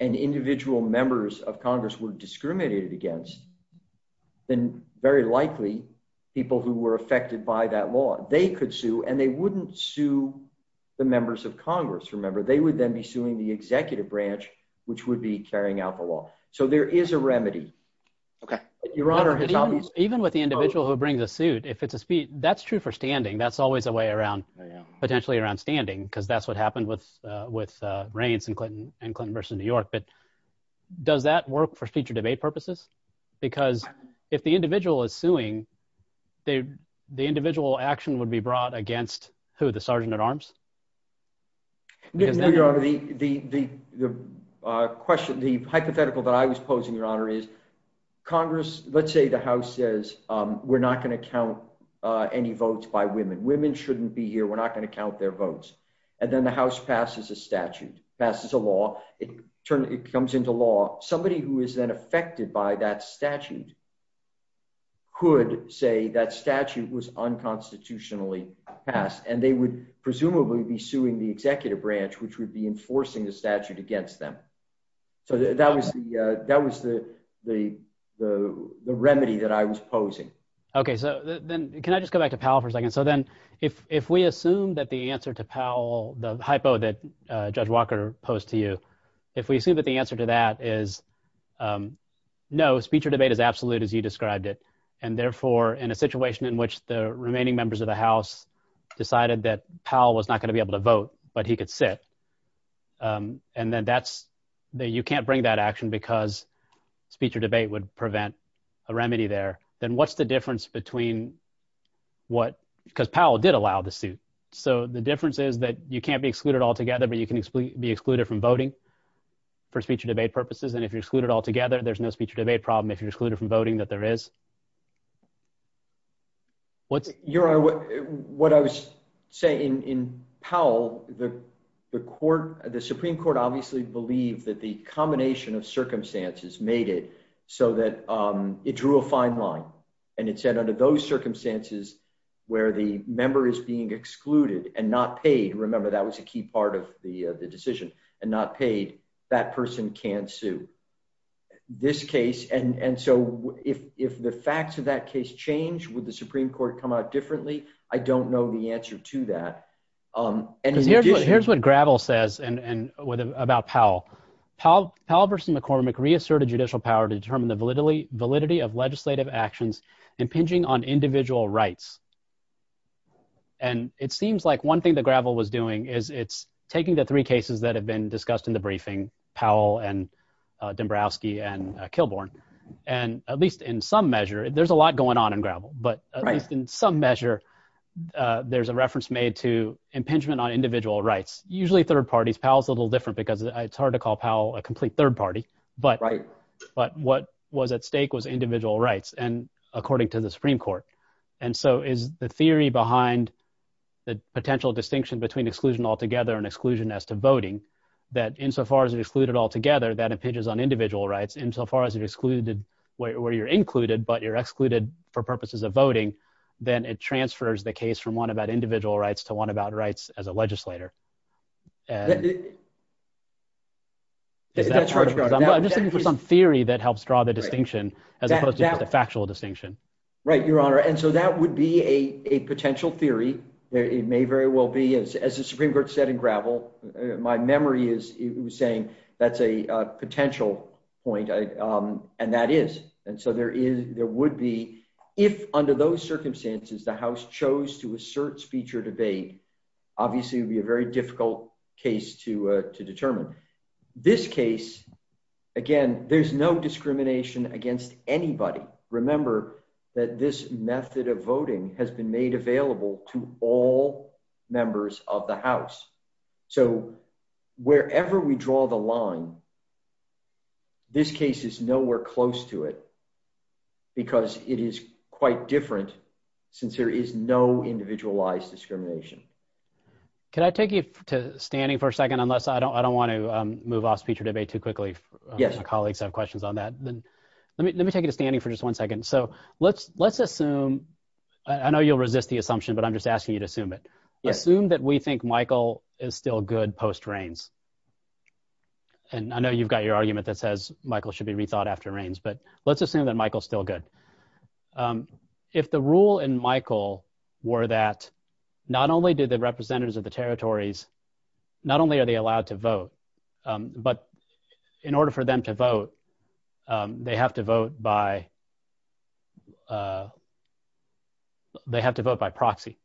and individual members of Congress were discriminated against, then very likely people who were affected by that law, they could sue and they wouldn't sue the members of Congress. Remember they would then be suing the executive branch, which would be carrying out the law. So there is a remedy. Okay. Your honor, even with the individual who brings a suit, if it's a speech, that's true for standing, that's always a way around potentially around standing. Cause that's what happened with, with Reince and Clinton and Clinton versus New York. But does that work for future debate purposes? Because if the individual is suing, they, the individual action would be brought against who? The Sergeant at Arms? The question, the hypothetical that I was posing your honor is Congress. Let's say the house says we're not going to count any votes by women. Women shouldn't be here. We're not going to count their votes. And then the house passes a statute, passes a law. It turns, it comes into law. Somebody who is then affected by that statute could say that statute was unconstitutionally passed and they would presumably be suing the executive branch, which would be enforcing the statute against them. So that was the, that was the, the, the, the remedy that I was posing. Okay. So then can I just go back to Powell for a second? So then if, if we assume that the answer to Powell, the hypo that Judge Walker posed to you, if we assume that the answer to that is no, speech or debate is absolute as you described it. And therefore in a situation in which the remaining members of the house decided that Powell was not going to be able to vote, but he could sit. And then that's the, you can't bring that action because speech or debate would prevent a remedy there. Then what's the difference between what, because Powell did allow the suit. So the difference is that you can't be excluded altogether, but you can be excluded from voting for speech or debate purposes. And if you're excluded altogether, there's no speech or debate problem. If you're excluded from voting that there is. Your Honor, what I was saying in Powell, the court, the Supreme Court obviously believed that the combination of circumstances made it so that it drew a fine line. And it said under those circumstances where the member is being excluded and not paid, remember, that was a key part of the decision and not paid, that person can't sue. This case, and so if the facts of that case change, would the Supreme Court come out differently? I don't know the answer to that. And here's what Gravel says about Powell. Powell v. McCormick reasserted judicial power to determine the validity of legislative actions impinging on individual rights. And it seems like one thing that Gravel was doing is it's taking the three cases that have been discussed in the briefing, Powell and Dombrowski and Kilbourn. And at least in some measure, there's a lot going on in Gravel, but at least in some measure, there's a reference made to impingement on individual rights. Usually third parties, Powell's a little different because it's hard to call Powell a complete third party, but what was at stake was individual rights and according to the Supreme Court. And so is the theory behind the potential distinction between exclusion altogether and exclusion as to voting, that insofar as you're excluded altogether, that impinges on individual rights, insofar as you're excluded where you're included, but you're excluded for purposes of voting, then it transfers the case from one about individual rights to one about rights as a legislator. And this is some theory that helps draw the distinction as opposed to the factual distinction. Right, Your Honor. And so that would be a potential theory. It may very well be, as the Supreme Court said in Gravel, my memory is saying that's a potential point and that is. And so there would be, if under those circumstances, the House chose to assert speech or debate, obviously it would be a very difficult case to determine. This case, again, there's no discrimination against anybody. Remember that this method of voting has been made available to all members of the House. So wherever we draw the line, this case is nowhere close to it because it is quite different since there is no individualized discrimination. Can I take you to standing for a second unless I don't want to move off speech or debate too quickly? Yes. My colleagues have questions on that. Then let me take you to standing for just one second. So let's assume, I know you'll resist the assumption, but I'm just asking you to assume it. Assume that we think Michael is still good post-Reins. And I know you've got your argument that says Michael should be rethought after Reins, but let's assume that Michael's still good. If the rule in Michael were that not only do the representatives of the territories, not only are they allowed to vote, but in order for them to vote, they have to vote by proxy.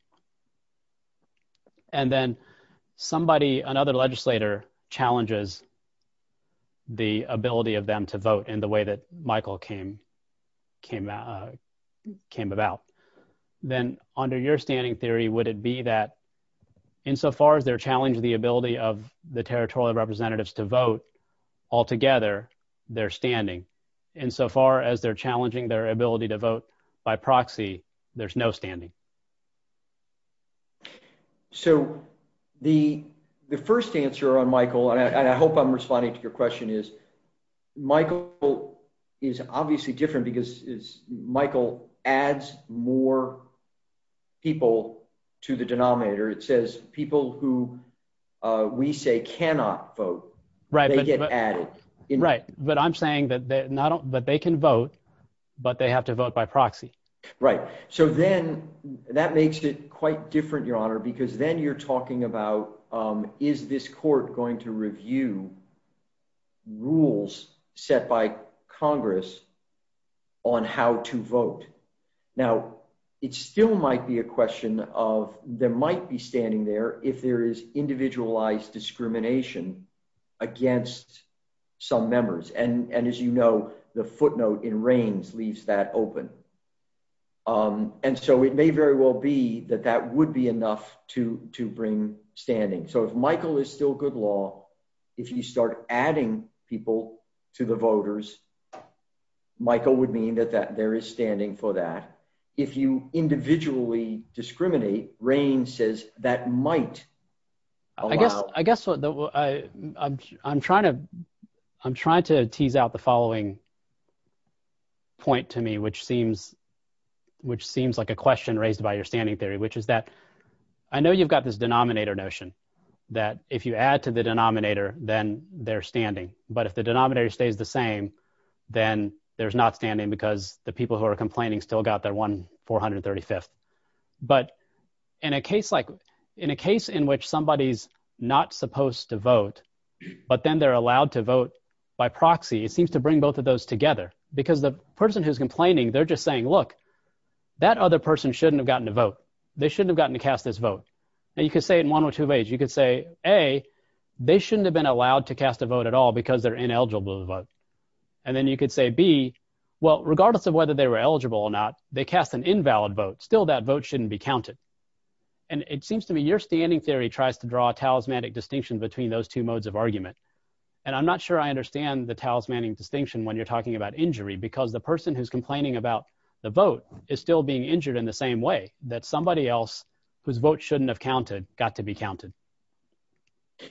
And then somebody, another legislator challenges the ability of them to vote in the way that Michael came about. Then under your standing theory, would it be that insofar as they're challenging the ability of the territorial representatives to vote altogether, they're standing. Insofar as they're challenging their ability to vote by proxy, there's no standing. So the first answer on Michael, and I hope I'm responding to your question, is Michael is obviously different because Michael adds more people to the denominator. It says people who we say cannot vote, they get added. Right. But I'm saying that they can vote, but they have to vote by proxy. Right. So then that makes it quite different, Your Honor, because then you're talking about, is this court going to review rules set by Congress on how to vote? Now, it still might be a question of, there might be standing there if there is individualized discrimination against some members. And as you know, the footnote in Reigns leaves that open. And so it may very well be that that would be enough to bring standing. So if Michael is still good law, if you start adding people to the voters, Michael would mean that there is standing for that. If you individually discriminate, Reigns says that might allow- I guess I'm trying to tease out the following point to me, which seems like a question raised by your standing theory, which is that I know you've got this denominator notion, that if you add to the denominator, then they're standing. But if the denominator stays the same, then there's not standing because the people who are complaining still got their one 435th. But in a case in which somebody's not supposed to vote, but then they're allowed to vote by proxy, it seems to bring both of those together. Because the person who's complaining, they're just saying, look, that other person shouldn't have gotten to vote. They shouldn't have gotten to cast this vote. And you could say it in one or two ways. You could say, A, they shouldn't have been allowed to cast a vote at all because they're ineligible to vote. And then you could say, B, well, regardless of whether they were eligible or not, they cast an invalid vote. Still, that vote shouldn't be counted. And it seems to me your standing theory tries to draw a talismanic distinction between those two modes of argument. And I'm not sure I understand the talismanic distinction when you're talking about injury, because the person who's complaining about the vote is still being injured in the same way, that somebody else whose vote shouldn't have counted got to be counted.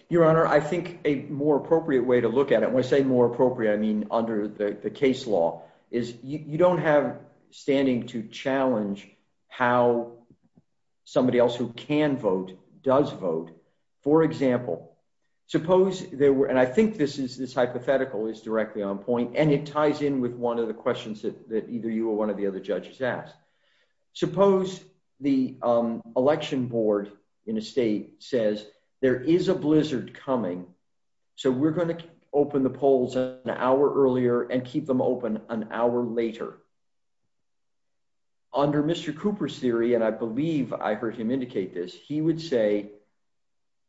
Your Honor, I think a more appropriate way to look at it, when I say more appropriate, I mean under the case law, is you don't have standing to challenge how somebody else who can vote does vote. For example, suppose there were, and I think this hypothetical is directly on point, and it ties in with one of the questions that either you or one of the other judges asked. Suppose the election board in a state says, there is a blizzard coming, so we're going to open the polls an hour earlier and keep them open an hour later. Under Mr. Cooper's theory, and I believe I heard him indicate this, he would say,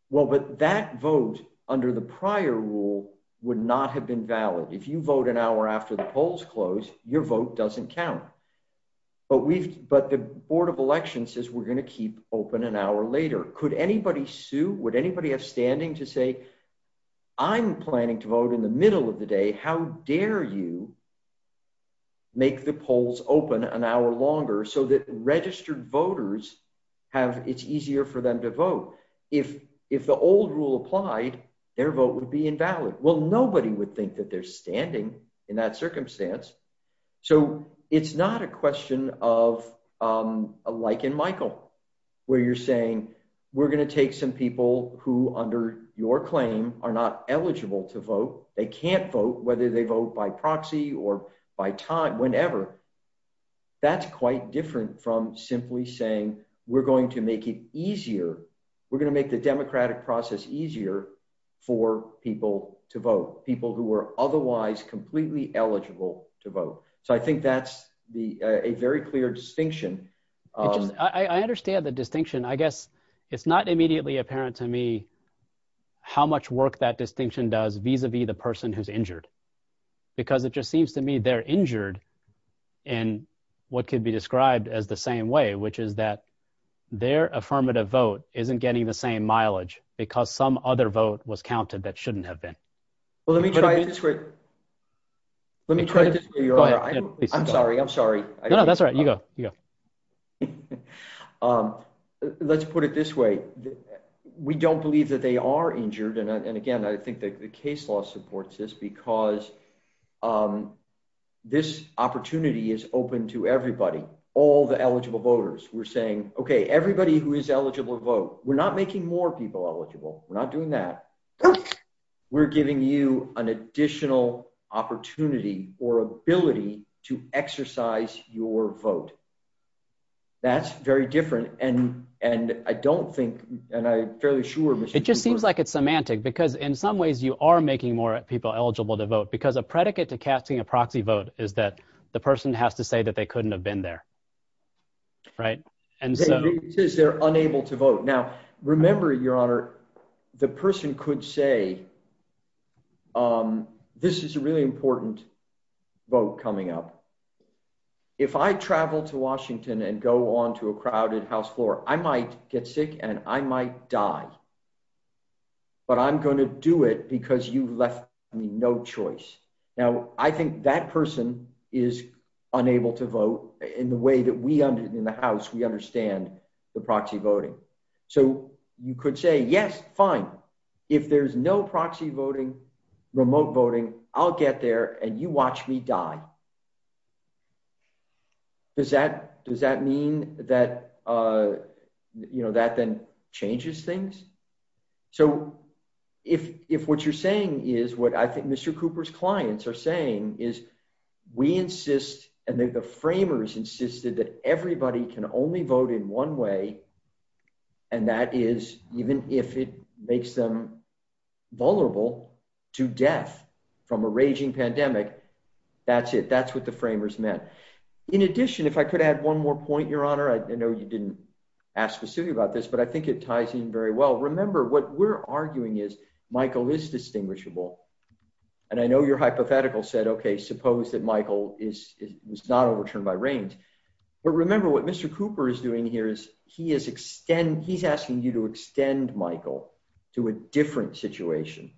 well, but that vote under the prior rule would not have been valid. If you vote an hour after the polls close, your vote doesn't count. But the Board of Elections says we're going to keep open an hour later. Could anybody sue, would anybody have standing to say, I'm planning to vote in the middle of the day, how dare you make the polls open an hour longer so that registered voters have, it's easier for them to vote? If the old rule applied, their vote would be invalid. Well, nobody would think that they're standing in that circumstance. So it's not a question of, like in Michael, where you're saying we're going to take some people who under your claim are not eligible to vote, they can't vote, whether they vote by proxy or by time, whenever. That's quite different from simply saying we're going to make it easier, we're going to make the democratic process easier for people to vote, people who are otherwise completely eligible to vote. So I think that's a very clear distinction. I understand the distinction. I guess it's not immediately apparent to me how much work that distinction does vis-a-vis the person who's injured. Because it just seems to me they're injured in what could be described as the same way, which is that their affirmative vote isn't getting the same mileage because some other vote was counted that shouldn't have been. Let me try this way. I'm sorry. I'm sorry. No, that's all right. You go. Let's put it this way. We don't believe that they are injured. And again, I think the case law supports this because this opportunity is open to everybody, all the eligible voters. We're saying, okay, everybody who is eligible to vote, we're not making more people eligible. We're not giving you an additional opportunity or ability to exercise your vote. That's very different. And I don't think, and I'm fairly sure... It just seems like it's semantic because in some ways you are making more people eligible to vote because a predicate to casting a proxy vote is that the person has to say that they couldn't have been there. Right. And it says they're unable to vote. Now, remember, Your Honor, the person could say, this is a really important vote coming up. If I travel to Washington and go on to a crowded House floor, I might get sick and I might die, but I'm going to do it because you left me no choice. Now, I think that person is unable to vote in the way that we in the House, we understand the proxy voting. So you could say, yes, fine. If there's no proxy voting, remote voting, I'll get there and you watch me die. Does that mean that that then changes things? So if what you're saying is what I think Mr. Lyons are saying is we insist and that the framers insisted that everybody can only vote in one way. And that is even if it makes them vulnerable to death from a raging pandemic, that's it. That's what the framers meant. In addition, if I could add one more point, Your Honor, I know you didn't ask specifically about this, but I think it ties in very well. Remember what we're arguing is Michael is distinguishable. And I know your hypothetical said, okay, suppose that Michael is not overturned by Reins. But remember what Mr. Cooper is doing here is he is asking you to extend Michael to a different situation.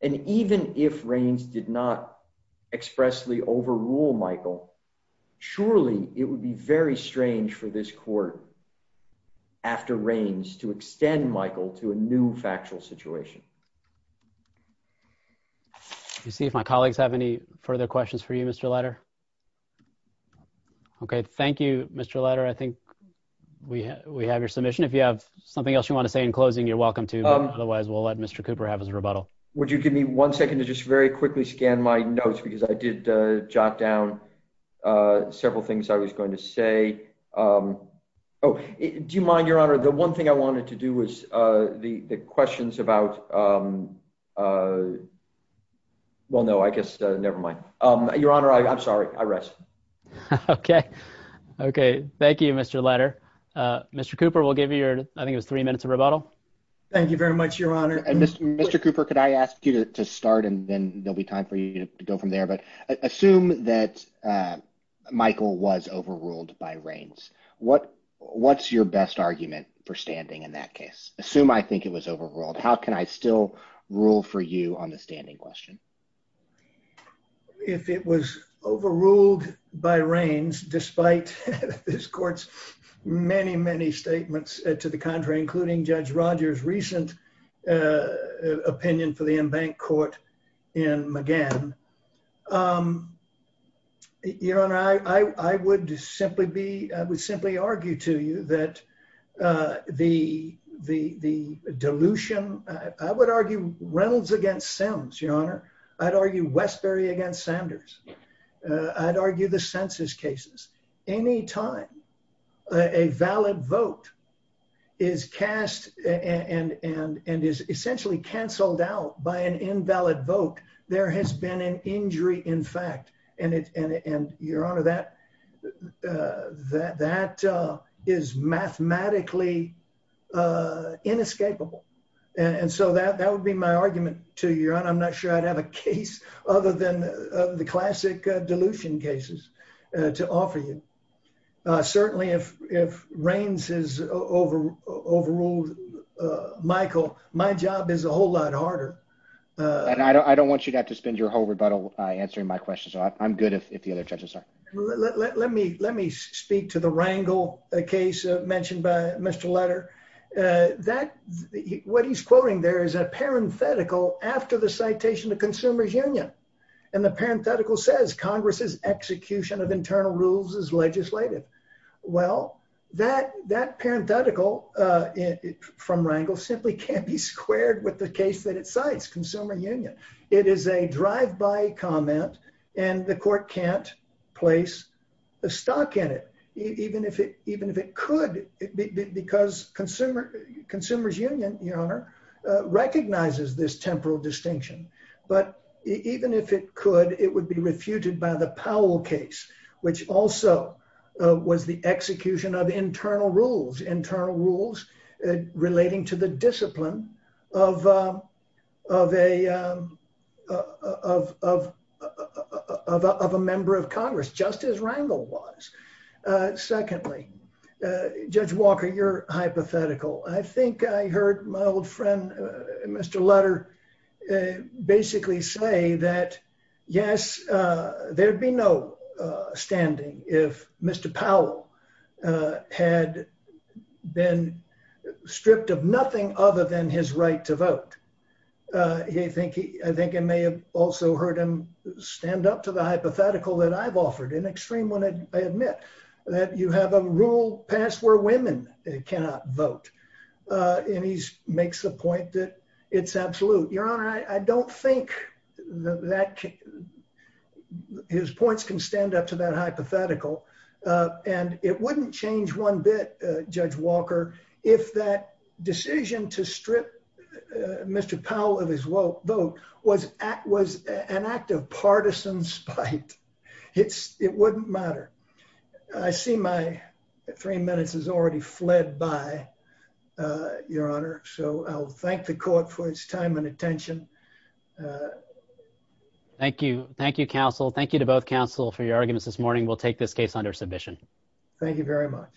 And even if Reins did not expressly overrule Michael, surely it would be very strange for this court after Reins to extend Michael to a new factual situation. Let's see if my colleagues have any further questions for you, Mr. Leiter. Okay. Thank you, Mr. Leiter. I think we have your submission. If you have something else you want to say in closing, you're welcome to, otherwise we'll let Mr. Cooper have his rebuttal. Would you give me one second to just very quickly scan my notes because I did jot down several things I was going to say. Oh, do you mind, Your Honor, the one thing I wanted to do was the questions about, well, no, I guess, nevermind. Your Honor, I'm sorry. I rest. Okay. Okay. Thank you, Mr. Leiter. Mr. Cooper, we'll give you, I think it was three minutes of rebuttal. Thank you very much, Your Honor. Mr. Cooper, could I ask you to start and then there'll be time for you to go from there, but assume that Michael was overruled by Reins. What's your best argument for standing in that case? Assume I think it was overruled. How can I still rule for you on the standing question? If it was overruled by Reins, despite this court's many, many statements to the contrary, including Judge Rogers' recent opinion for the in-bank court in McGann, Your Honor, I would simply be, I would simply argue to you that the dilution, I would argue Reynolds against Sims, Your Honor. I'd argue Westbury against Sanders. I'd argue the census cases. Any time a valid vote is cast and is essentially canceled out by an invalid vote, there has been an injury in fact. And Your Honor, that is mathematically inescapable. And so that would be my argument to you, Your Honor. I'm not sure I'd have a case other than the classic dilution cases to offer you. Certainly if Reins has overruled Michael, my job is a whole lot harder. And I don't want you to have to spend your whole rebuttal answering my question, so I'm good if the other judges are. Let me speak to the Rangel case mentioned by Mr. Letter. What he's quoting there is a parenthetical after the citation of Consumers Union. And the parenthetical says, Congress's execution of internal rules is legislated. Well, that parenthetical from Rangel simply can't be squared with the case that it cites, Consumer Union. It is a drive-by comment and the court can't place a stock at it, even if it could because Consumers Union recognizes this temporal distinction. But even if it could, it would be refuted by the Powell case, which also was the execution of internal rules, internal rules relating to the discipline of a member of Congress, just as Rangel was. Secondly, Judge Walker, your hypothetical. I think I heard my old friend, Mr. Letter, basically say that, yes, there'd be no standing if Mr. Powell had been stripped of nothing other than his right to vote. I think I may have also heard him stand up to the hypothetical that I've you have a rule passed where women cannot vote. And he makes the point that it's absolute. Your Honor, I don't think that his points can stand up to that hypothetical. And it wouldn't change one bit, Judge Walker, if that decision to strip Mr. Powell of his vote was an act of partisan spite. It wouldn't matter. I see my three minutes has already fled by, Your Honor. So I'll thank the court for its time and attention. Thank you. Thank you, counsel. Thank you to both counsel for your arguments this morning. We'll take this case under submission. Thank you very much.